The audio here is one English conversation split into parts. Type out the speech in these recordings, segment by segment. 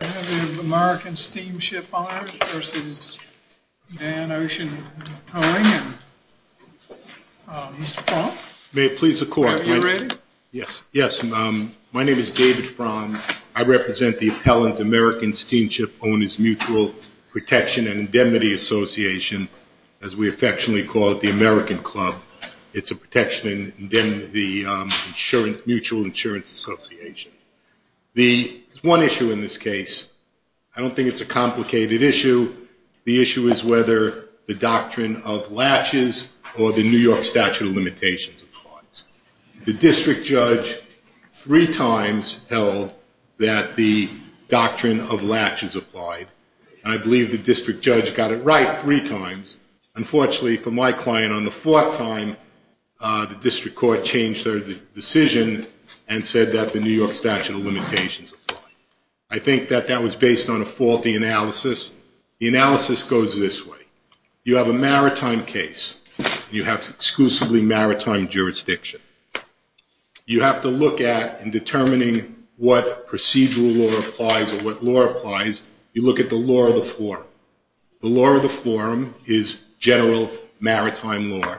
I have American Steamship Owners v. Dann Ocean Towing, and Mr. Fromm, are you ready? Yes. My name is David Fromm. I represent the appellant American Steamship Owners Mutual Protection and Indemnity Association, as we affectionately call it, the American Club. It's a protection and mutual insurance association. There's one issue in this case. I don't think it's a complicated issue. The issue is whether the doctrine of latches or the New York statute of limitations applies. The district judge three times held that the doctrine of latches applied. I believe the district judge got it right three times. Unfortunately for my client, on the fourth time, the district court changed their decision and said that the New York statute of limitations applied. I think that that was based on a faulty analysis. The analysis goes this way. You have a maritime case. You have exclusively maritime jurisdiction. You have to look at, in determining what procedural law applies or what law applies, you look at the law of the forum. The law of the forum is general maritime law,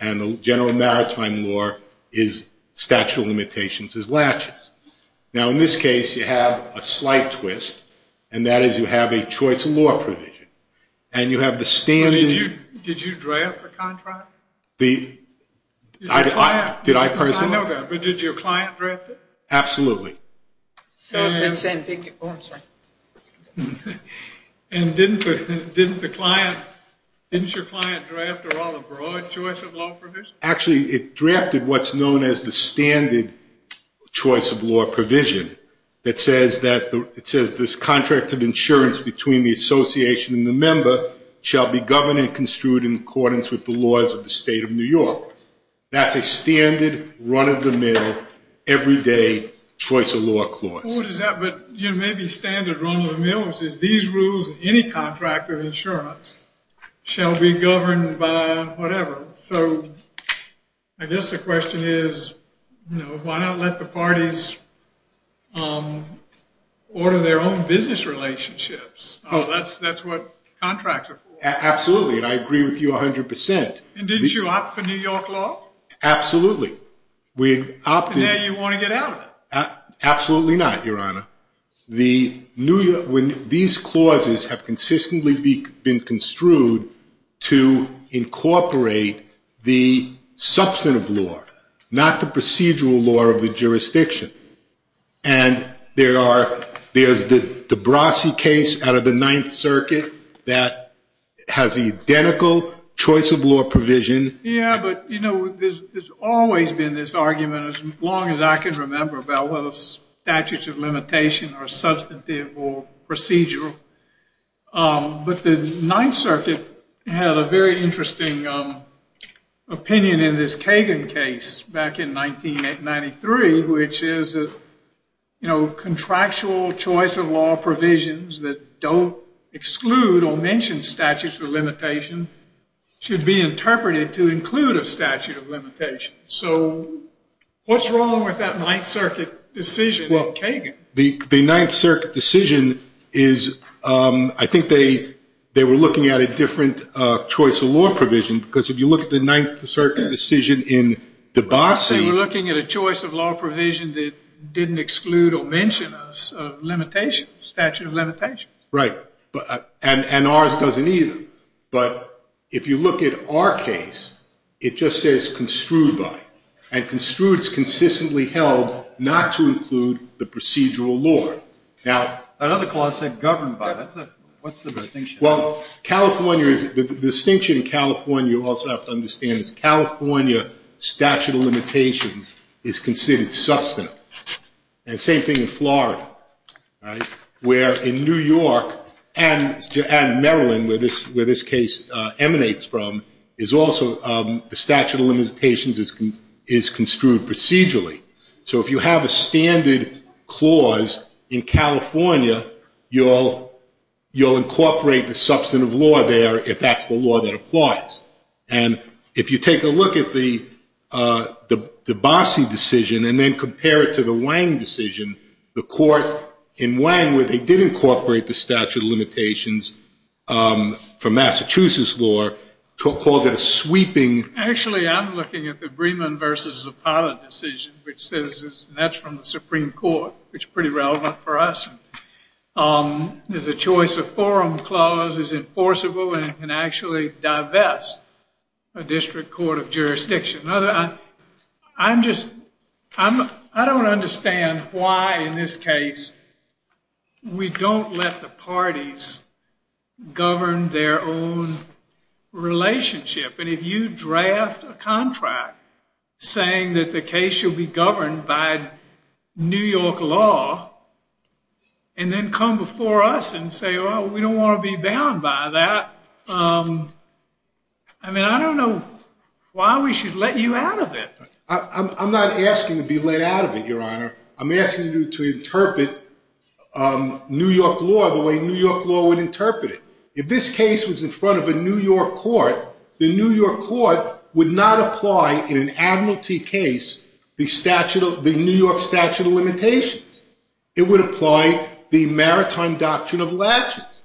and the general maritime law is statute of limitations as latches. Now, in this case, you have a slight twist, and that is you have a choice of law provision. Did you draft the contract? Did I personally? I know that, but did your client draft it? Absolutely. Oh, I'm sorry. And didn't your client draft a rather broad choice of law provision? Actually, it drafted what's known as the standard choice of law provision. It says this contract of insurance between the association and the member shall be governed and construed in accordance with the laws of the state of New York. That's a standard, run-of-the-mill, everyday choice of law clause. Well, what is that? But, you know, maybe standard run-of-the-mill is these rules in any contract of insurance shall be governed by whatever. So I guess the question is, you know, why not let the parties order their own business relationships? That's what contracts are for. Absolutely, and I agree with you 100%. And didn't you opt for New York law? Absolutely. And now you want to get out of it. Absolutely not, Your Honor. These clauses have consistently been construed to incorporate the substantive law, not the procedural law of the jurisdiction. And there's the Debrassi case out of the Ninth Circuit that has the identical choice of law provision. Yeah, but, you know, there's always been this argument, as long as I can remember, about whether statutes of limitation are substantive or procedural. But the Ninth Circuit had a very interesting opinion in this Kagan case back in 1993, which is that contractual choice of law provisions that don't exclude or mention statutes of limitation should be interpreted to include a statute of limitation. So what's wrong with that Ninth Circuit decision in Kagan? The Ninth Circuit decision is, I think they were looking at a different choice of law provision, because if you look at the Ninth Circuit decision in Debrassi. Well, I think they were looking at a choice of law provision that didn't exclude or mention a statute of limitation. Right, and ours doesn't either. But if you look at our case, it just says construed by. And construed is consistently held not to include the procedural law. Another clause said governed by. What's the distinction? Well, the distinction in California, you also have to understand, is California statute of limitations is considered substantive. And same thing in Florida, where in New York and Maryland, where this case emanates from, is also the statute of limitations is construed procedurally. So if you have a standard clause in California, you'll incorporate the substantive law there if that's the law that applies. And if you take a look at the Debrassi decision and then compare it to the Wang decision, the court in Wang, where they did incorporate the statute of limitations for Massachusetts law, called it a sweeping. Actually, I'm looking at the Breedman versus Zapata decision, which says that's from the Supreme Court, which is pretty relevant for us. There's a choice of forum clause is enforceable and can actually divest a district court of jurisdiction. I don't understand why in this case we don't let the parties govern their own relationship. And if you draft a contract saying that the case should be governed by New York law, and then come before us and say, oh, we don't want to be bound by that. I mean, I don't know why we should let you out of it. I'm not asking to be let out of it, Your Honor. I'm asking you to interpret New York law the way New York law would interpret it. If this case was in front of a New York court, the New York court would not apply in an admiralty case the New York statute of limitations. It would apply the maritime doctrine of latches.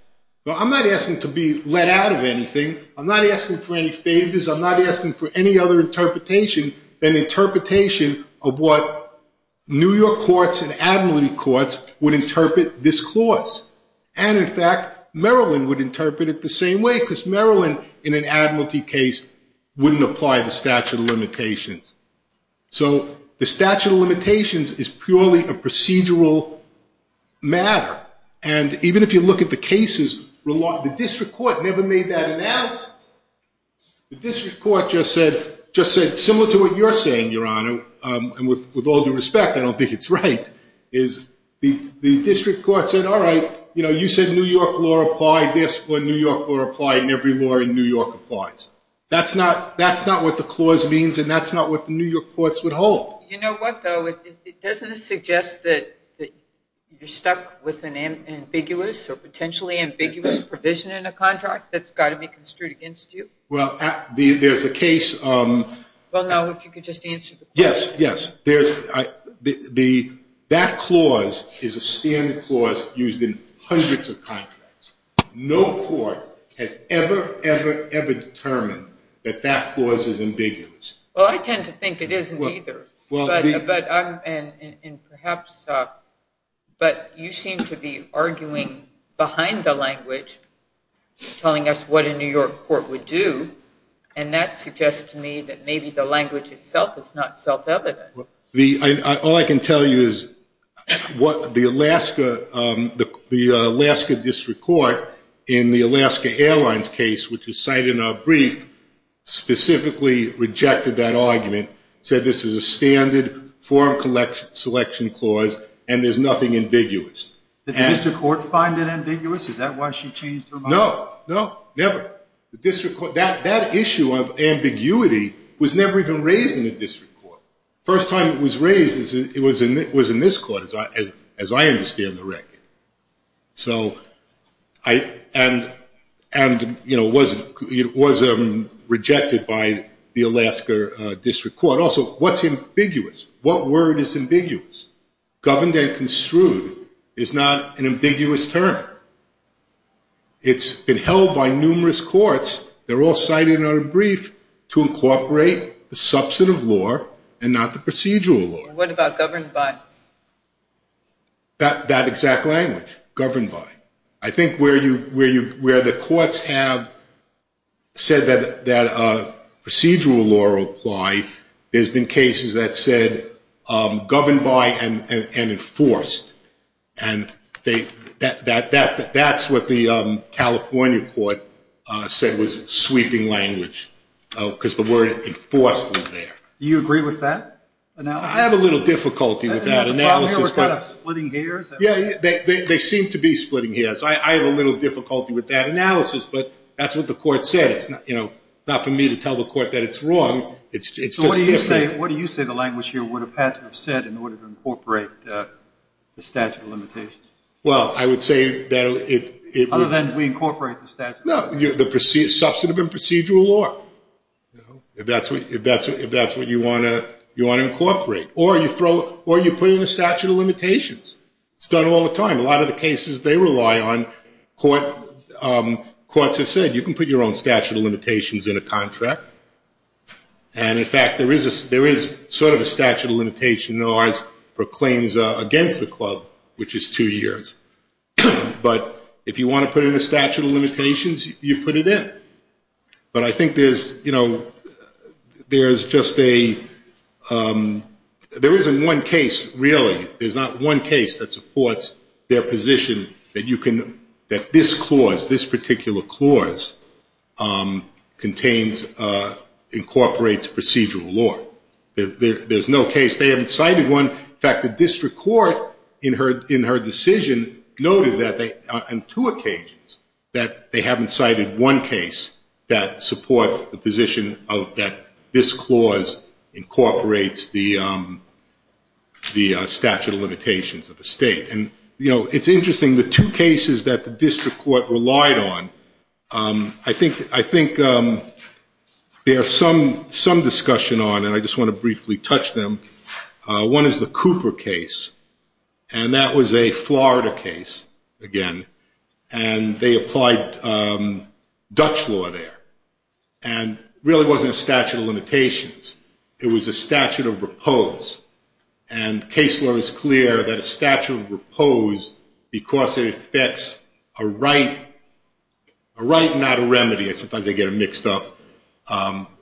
I'm not asking to be let out of anything. I'm not asking for any favors. I'm not asking for any other interpretation than interpretation of what New York courts and admiralty courts would interpret this clause. And, in fact, Maryland would interpret it the same way, because Maryland, in an admiralty case, wouldn't apply the statute of limitations. So the statute of limitations is purely a procedural matter. And even if you look at the cases, the district court never made that announce. The district court just said, similar to what you're saying, Your Honor, and with all due respect, I don't think it's right, is the district court said, all right, you said New York law applied this when New York law applied in every law in New York applies. That's not what the clause means, and that's not what the New York courts would hold. You know what, though? It doesn't suggest that you're stuck with an ambiguous or potentially ambiguous provision in a contract that's got to be construed against you. Well, there's a case. Well, no, if you could just answer the question. Yes, yes. That clause is a standard clause used in hundreds of contracts. No court has ever, ever, ever determined that that clause is ambiguous. Well, I tend to think it isn't either. But you seem to be arguing behind the language, telling us what a New York court would do, and that suggests to me that maybe the language itself is not self-evident. All I can tell you is the Alaska district court in the Alaska Airlines case, which is cited in our brief, specifically rejected that argument, said this is a standard form selection clause and there's nothing ambiguous. Did the district court find it ambiguous? Is that why she changed her mind? No, no, never. That issue of ambiguity was never even raised in the district court. The first time it was raised was in this court, as I understand the record. So it was rejected by the Alaska district court. Also, what's ambiguous? What word is ambiguous? Governed and construed is not an ambiguous term. It's been held by numerous courts, they're all cited in our brief, to incorporate the substantive law and not the procedural law. What about governed by? That exact language, governed by. I think where the courts have said that a procedural law will apply, there's been cases that said governed by and enforced. And that's what the California court said was sweeping language, because the word enforced was there. Do you agree with that analysis? I have a little difficulty with that analysis. The problem here was kind of splitting gears. Yeah, they seem to be splitting gears. I have a little difficulty with that analysis, but that's what the court said. It's not for me to tell the court that it's wrong. So what do you say the language here would have had to have said in order to incorporate the statute of limitations? Well, I would say that it would. Other than we incorporate the statute of limitations. No, the substantive and procedural law, if that's what you want to incorporate. Or you put in a statute of limitations. It's done all the time. A lot of the cases they rely on, courts have said you can put your own statute of limitations in a contract. And, in fact, there is sort of a statute of limitation in ours for claims against the club, which is two years. But if you want to put in a statute of limitations, you put it in. But I think there's just a – there isn't one case, really. There's not one case that supports their position that this clause, this particular clause, incorporates procedural law. There's no case. They haven't cited one. In fact, the district court in her decision noted on two occasions that they haven't cited one case that supports the position that this clause incorporates the statute of limitations of the state. And, you know, it's interesting. The two cases that the district court relied on, I think there's some discussion on, and I just want to briefly touch them. One is the Cooper case, and that was a Florida case, again, and they applied Dutch law there. And it really wasn't a statute of limitations. It was a statute of repose. And case law is clear that a statute of repose, because it affects a right, not a remedy. Sometimes they get them mixed up,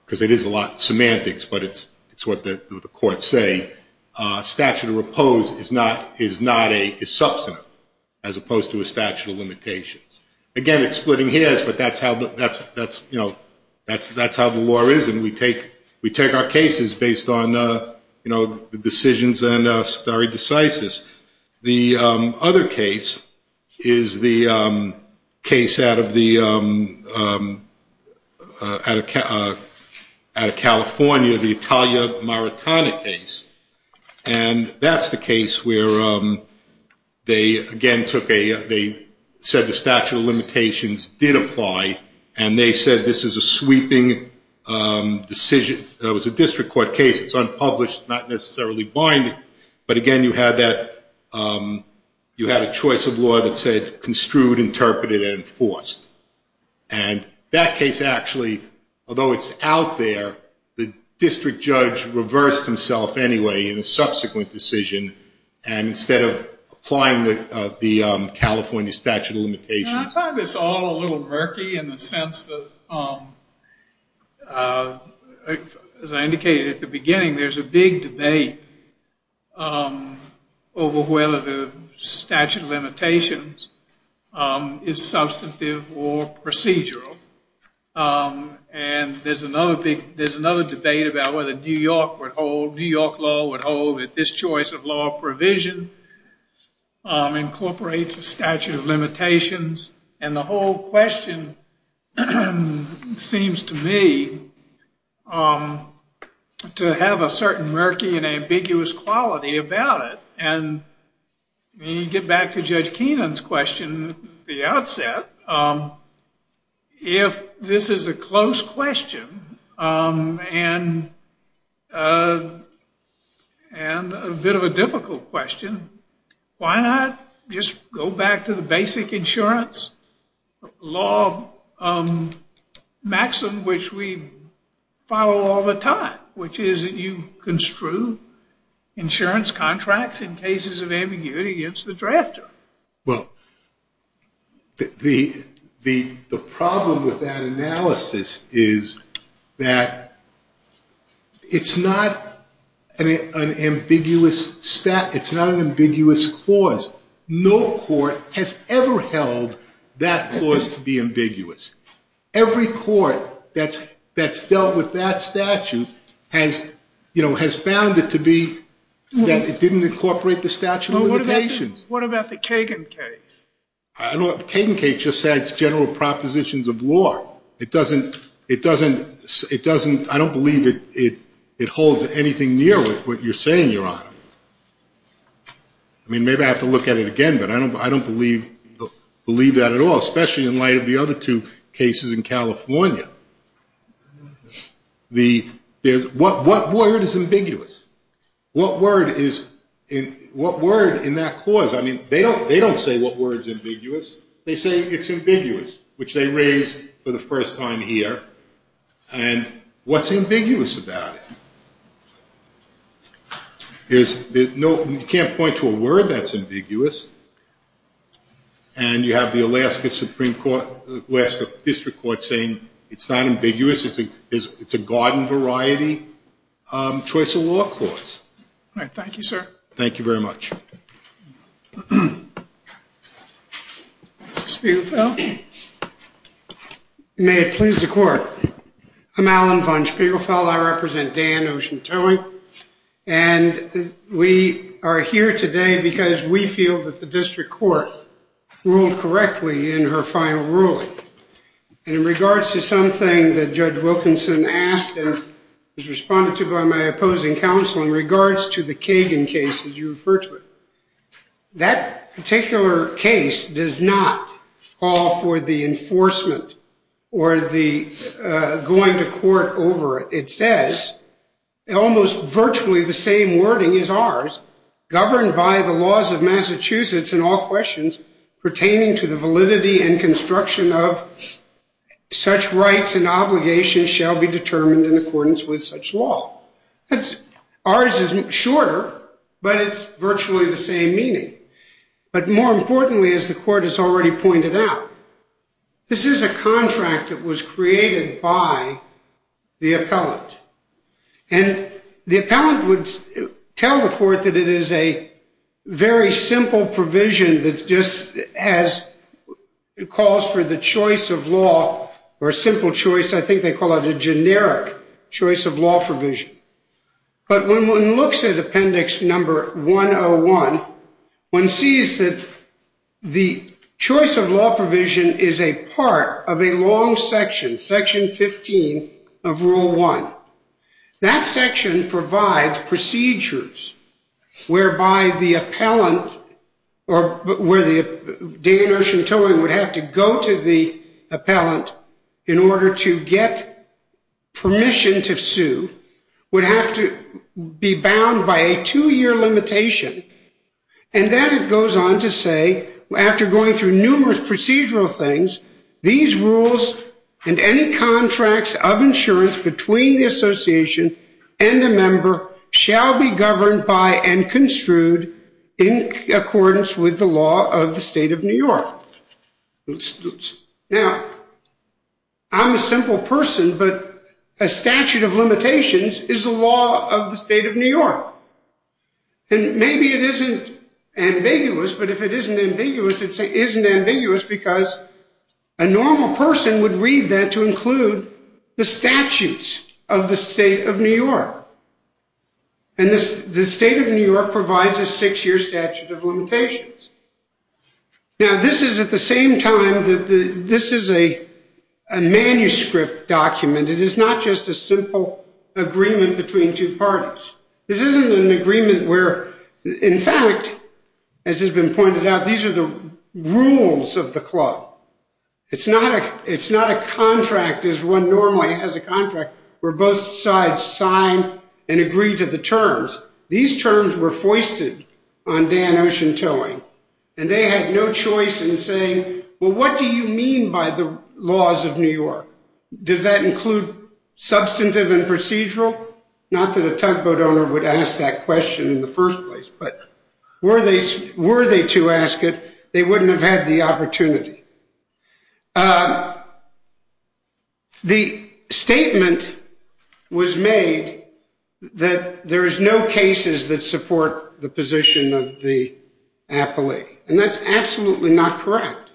because it is a lot of semantics, but it's what the courts say. A statute of repose is not a – is substantive as opposed to a statute of limitations. Again, it's splitting hairs, but that's how the law is, and we take our cases based on, you know, the decisions and stare decisis. The other case is the case out of the – out of California, the Italia Maritana case. And that's the case where they, again, took a – they said the statute of limitations did apply, and they said this is a sweeping decision. It was a district court case. It's unpublished, not necessarily binding. But, again, you had that – you had a choice of law that said construed, interpreted, and enforced. And that case actually, although it's out there, the district judge reversed himself anyway in a subsequent decision, and instead of applying the California statute of limitations. And I find this all a little murky in the sense that, as I indicated at the beginning, there's a big debate over whether the statute of limitations is substantive or procedural. And there's another big – there's another debate about whether New York would hold – And the whole question seems to me to have a certain murky and ambiguous quality about it. And when you get back to Judge Keenan's question at the outset, if this is a close question and a bit of a difficult question, why not just go back to the basic insurance law maxim which we follow all the time, which is that you construe insurance contracts in cases of ambiguity against the drafter? Well, the problem with that analysis is that it's not an ambiguous – it's not an ambiguous clause. No court has ever held that clause to be ambiguous. Every court that's dealt with that statute has, you know, has found it to be that it didn't incorporate the statute of limitations. What about the Kagan case? The Kagan case just adds general propositions of law. It doesn't – I don't believe it holds anything near what you're saying, Your Honor. I mean, maybe I have to look at it again, but I don't believe that at all, especially in light of the other two cases in California. What word is ambiguous? What word is – what word in that clause – I mean, they don't say what word is ambiguous. They say it's ambiguous, which they raise for the first time here, and what's ambiguous about it? There's no – you can't point to a word that's ambiguous, and you have the Alaska Supreme Court – Alaska District Court saying it's not ambiguous, it's a garden-variety choice of law clause. All right. Thank you, sir. Thank you very much. Mr. Spiegelfeld? May it please the Court. I'm Alan von Spiegelfeld. I represent Dan Ocean Towing, and we are here today because we feel that the district court ruled correctly in her final ruling. And in regards to something that Judge Wilkinson asked and was responded to by my opposing counsel in regards to the Kagan case that you referred to, that particular case does not call for the enforcement or the going to court over, it says, almost virtually the same wording as ours, governed by the laws of Massachusetts in all questions pertaining to the validity and construction of such rights and obligations shall be determined in accordance with such law. Ours is shorter, but it's virtually the same meaning. But more importantly, as the Court has already pointed out, this is a contract that was created by the appellant. And the appellant would tell the Court that it is a very simple provision that just calls for the choice of law or a simple choice, I think they call it a generic choice of law provision. But when one looks at Appendix Number 101, one sees that the choice of law provision is a part of a long section, Section 15 of Rule 1. That section provides procedures whereby the appellant or where Dan Urshentoy would have to go to the appellant in order to get permission to sue would have to be bound by a two-year limitation. And then it goes on to say, after going through numerous procedural things, these rules and any contracts of insurance between the association and a member shall be governed by and construed in accordance with the law of the State of New York. Now, I'm a simple person, but a statute of limitations is the law of the State of New York. And maybe it isn't ambiguous, but if it isn't ambiguous, it isn't ambiguous because a normal person would read that to include the statutes of the State of New York. And the State of New York provides a six-year statute of limitations. Now, this is at the same time that this is a manuscript document. It is not just a simple agreement between two parties. This isn't an agreement where, in fact, as has been pointed out, these are the rules of the club. It's not a contract as one normally has a contract where both sides sign and agree to the terms. These terms were foisted on Dan Urshentoy, and they had no choice in saying, well, what do you mean by the laws of New York? Does that include substantive and procedural? Not that a tugboat owner would ask that question in the first place, but were they to ask it, they wouldn't have had the opportunity. The statement was made that there is no cases that support the position of the appellee, and that's absolutely not correct.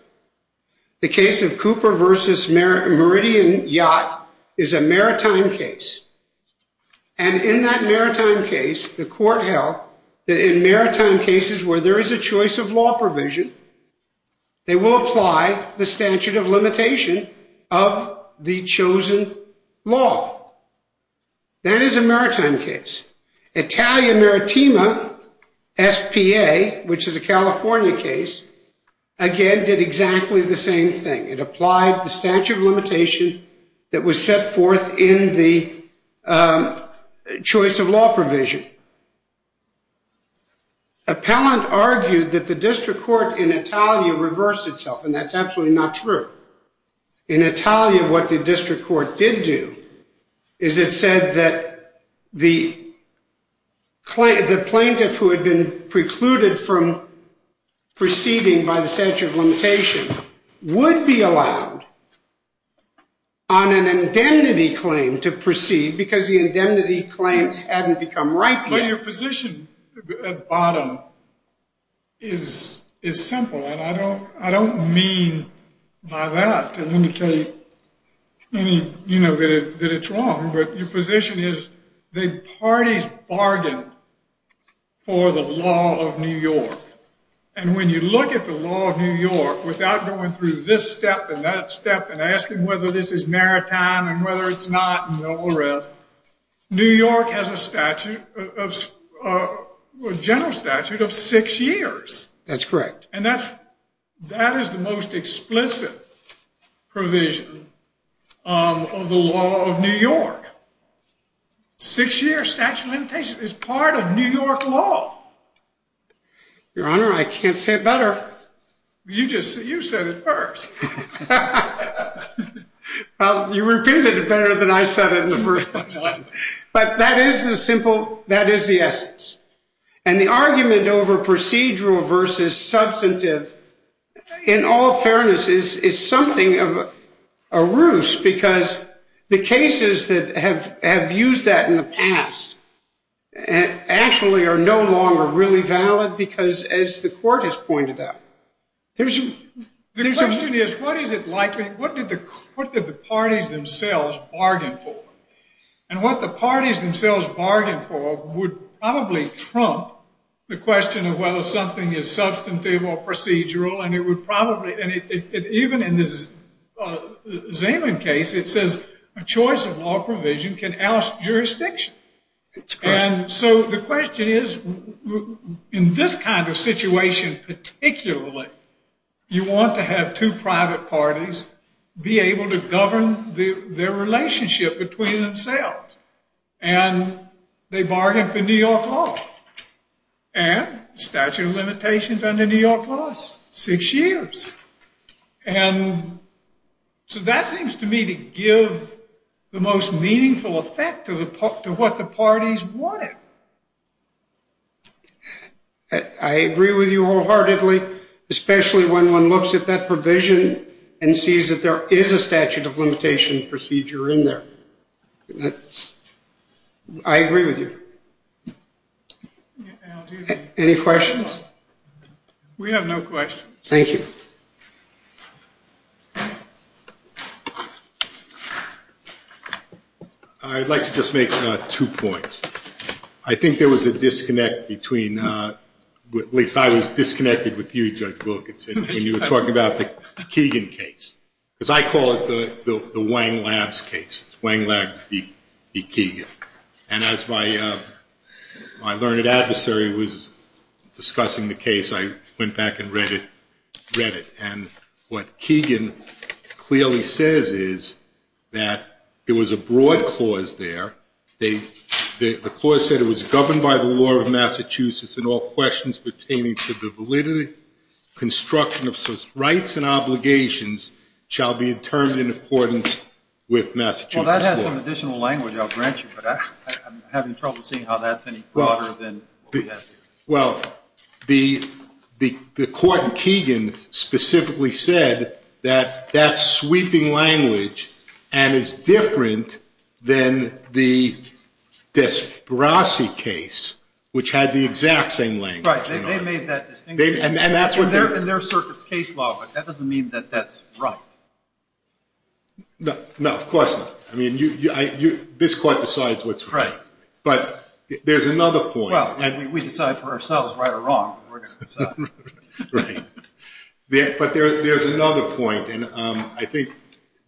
The case of Cooper v. Meridian Yacht is a maritime case. And in that maritime case, the court held that in maritime cases where there is a choice of law provision, they will apply the statute of limitation of the chosen law. That is a maritime case. Italia Meritima S.P.A., which is a California case, again did exactly the same thing. It applied the statute of limitation that was set forth in the choice of law provision. Appellant argued that the district court in Italia reversed itself, and that's absolutely not true. In Italia, what the district court did do is it said that the plaintiff who had been precluded from proceeding by the statute of limitation would be allowed on an indemnity claim to proceed because the indemnity claim hadn't become right yet. Now, your position at bottom is simple, and I don't mean by that to indicate that it's wrong, but your position is the parties bargained for the law of New York. And when you look at the law of New York without going through this step and that step and asking whether this is maritime and whether it's not and all the rest, New York has a general statute of six years. That's correct. And that is the most explicit provision of the law of New York. Six-year statute of limitation is part of New York law. Your Honor, I can't say it better. You said it first. Well, you repeated it better than I said it in the first place. But that is the simple, that is the essence. And the argument over procedural versus substantive, in all fairness, is something of a ruse because the cases that have used that in the past actually are no longer really valid because, as the court has pointed out, there's a... The question is, what is it likely, what did the parties themselves bargain for? And what the parties themselves bargained for would probably trump the question of whether something is substantive or procedural, and it would probably, even in this Zeman case, it says, a choice of law provision can oust jurisdiction. And so the question is, in this kind of situation particularly, you want to have two private parties be able to govern their relationship between themselves. And they bargain for New York law. And statute of limitations under New York law is six years. And so that seems to me to give the most meaningful effect to what the parties wanted. I agree with you wholeheartedly, especially when one looks at that provision and sees that there is a statute of limitation procedure in there. I agree with you. Any questions? We have no questions. Thank you. I'd like to just make two points. I think there was a disconnect between, at least I was disconnected with you, Judge Wilkinson, when you were talking about the Keegan case. Because I call it the Wang Labs case. It's Wang Labs v. Keegan. And as my learned adversary was discussing the case, I went back and read it. And what Keegan clearly says is that there was a broad clause there. The clause said it was governed by the law of Massachusetts and all questions pertaining to the validity, construction of such rights and obligations shall be determined in accordance with Massachusetts law. Well, that has some additional language, I'll grant you. But I'm having trouble seeing how that's any broader than what we have here. Well, the court in Keegan specifically said that that's sweeping language and is different than the Desparossi case, which had the exact same language. Right. They made that distinction. And that's what they're doing. And they're circuit's case law, but that doesn't mean that that's right. No, of course not. I mean, this court decides what's right. Right. But there's another point. Well, we decide for ourselves right or wrong. We're going to decide. Right. But there's another point. And I think,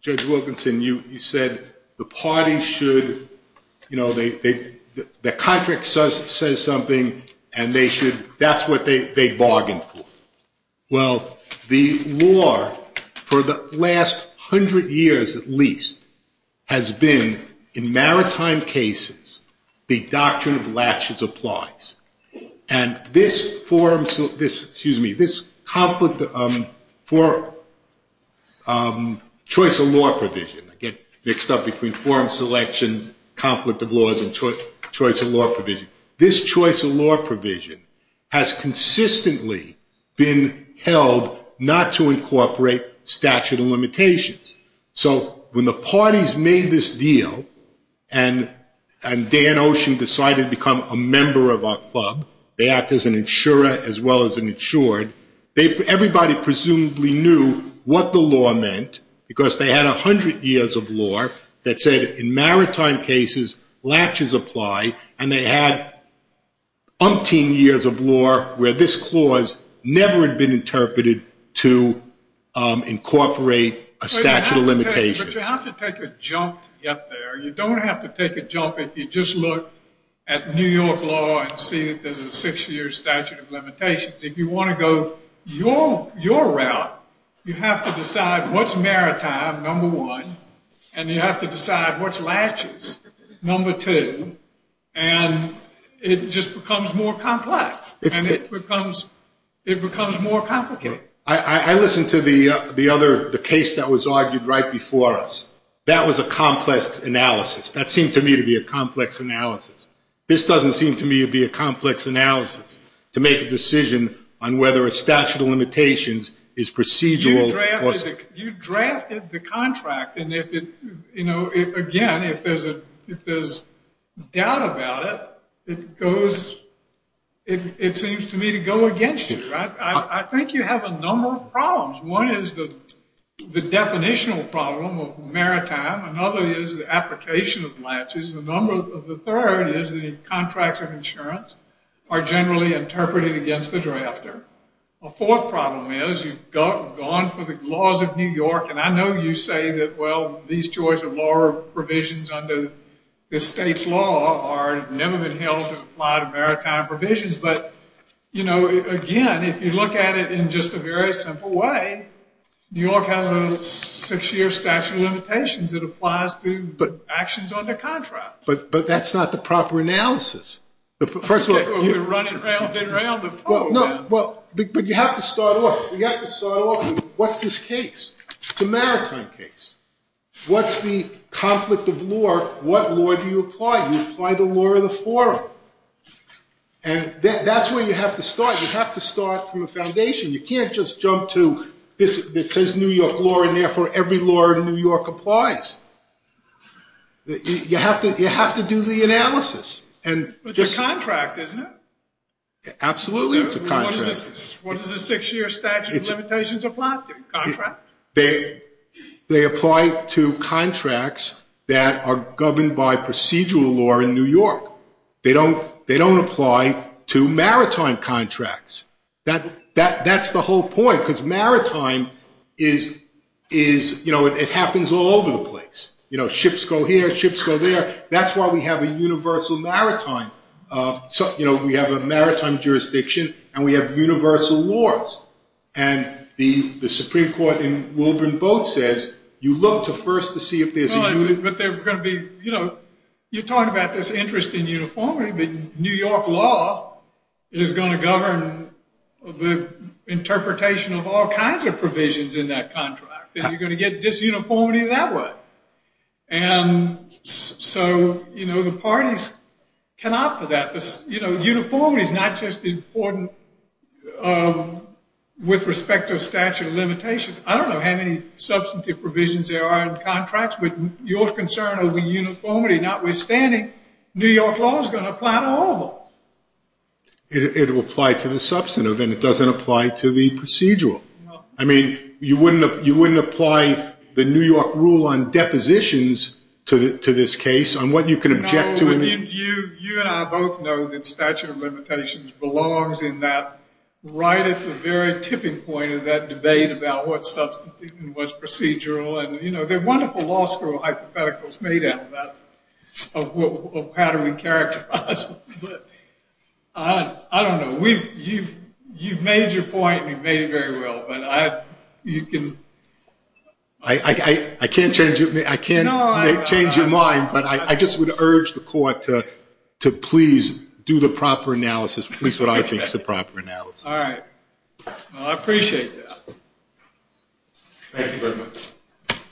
Judge Wilkinson, you said the party should, you know, the contract says something and they should, that's what they bargain for. Well, the law for the last hundred years at least has been in maritime cases, the doctrine of latches applies. And this forum, this, excuse me, this conflict for choice of law provision, I get mixed up between forum selection, conflict of laws, and choice of law provision. This choice of law provision has consistently been held not to incorporate statute of limitations. So when the parties made this deal and Dan Ocean decided to become a member of our club, they act as an insurer as well as an insured, everybody presumably knew what the law meant because they had a hundred years of law that said in maritime cases latches apply, and they had umpteen years of law where this clause never had been interpreted to incorporate a statute of limitations. But you have to take a jump to get there. You don't have to take a jump if you just look at New York law and see that there's a six-year statute of limitations. If you want to go your route, you have to decide what's maritime, number one, and you have to decide what's latches, number two, and it just becomes more complex. It becomes more complicated. I listened to the case that was argued right before us. That was a complex analysis. That seemed to me to be a complex analysis. This doesn't seem to me to be a complex analysis, to make a decision on whether a statute of limitations is procedural. You drafted the contract, and again, if there's doubt about it, it seems to me to go against you. I think you have a number of problems. One is the definitional problem of maritime. Another is the application of latches. The third is the contracts of insurance are generally interpreted against the drafter. A fourth problem is you've gone for the laws of New York, and I know you say that, well, these choice of law or provisions under the state's law have never been held to apply to maritime provisions, but, you know, again, if you look at it in just a very simple way, New York has a six-year statute of limitations. It applies to actions under contract. But that's not the proper analysis. First of all, we're running around and around. No, but you have to start off. You have to start off with what's this case? It's a maritime case. What's the conflict of law? What law do you apply? You apply the law of the forum. And that's where you have to start. You have to start from the foundation. You can't just jump to this that says New York law, and therefore every law in New York applies. You have to do the analysis. It's a contract, isn't it? Absolutely, it's a contract. What does a six-year statute of limitations apply to? Contract? They apply to contracts that are governed by procedural law in New York. They don't apply to maritime contracts. That's the whole point, because maritime is, you know, it happens all over the place. You know, ships go here, ships go there. That's why we have a universal maritime. You know, we have a maritime jurisdiction, and we have universal laws. And the Supreme Court in Wolverine Boat says, you look to first to see if there's a union. But they're going to be, you know, you're talking about this interest in uniformity, but New York law is going to govern the interpretation of all kinds of provisions in that contract. And you're going to get disuniformity that way. And so, you know, the parties can opt for that. You know, uniformity is not just important with respect to a statute of limitations. I don't know how many substantive provisions there are in contracts, but your concern over uniformity, notwithstanding, New York law is going to apply to all of them. It will apply to the substantive, and it doesn't apply to the procedural. I mean, you wouldn't apply the New York rule on depositions to this case, on what you can object to. I mean, you and I both know that statute of limitations belongs in that, right at the very tipping point of that debate about what's substantive and what's procedural. And, you know, they're wonderful law school hypotheticals made out of that, of how do we characterize them. But I don't know. You've made your point, and you've made it very well. But you can. I can't change your mind. But I just would urge the court to please do the proper analysis, at least what I think is the proper analysis. All right. Well, I appreciate that. Thank you very much.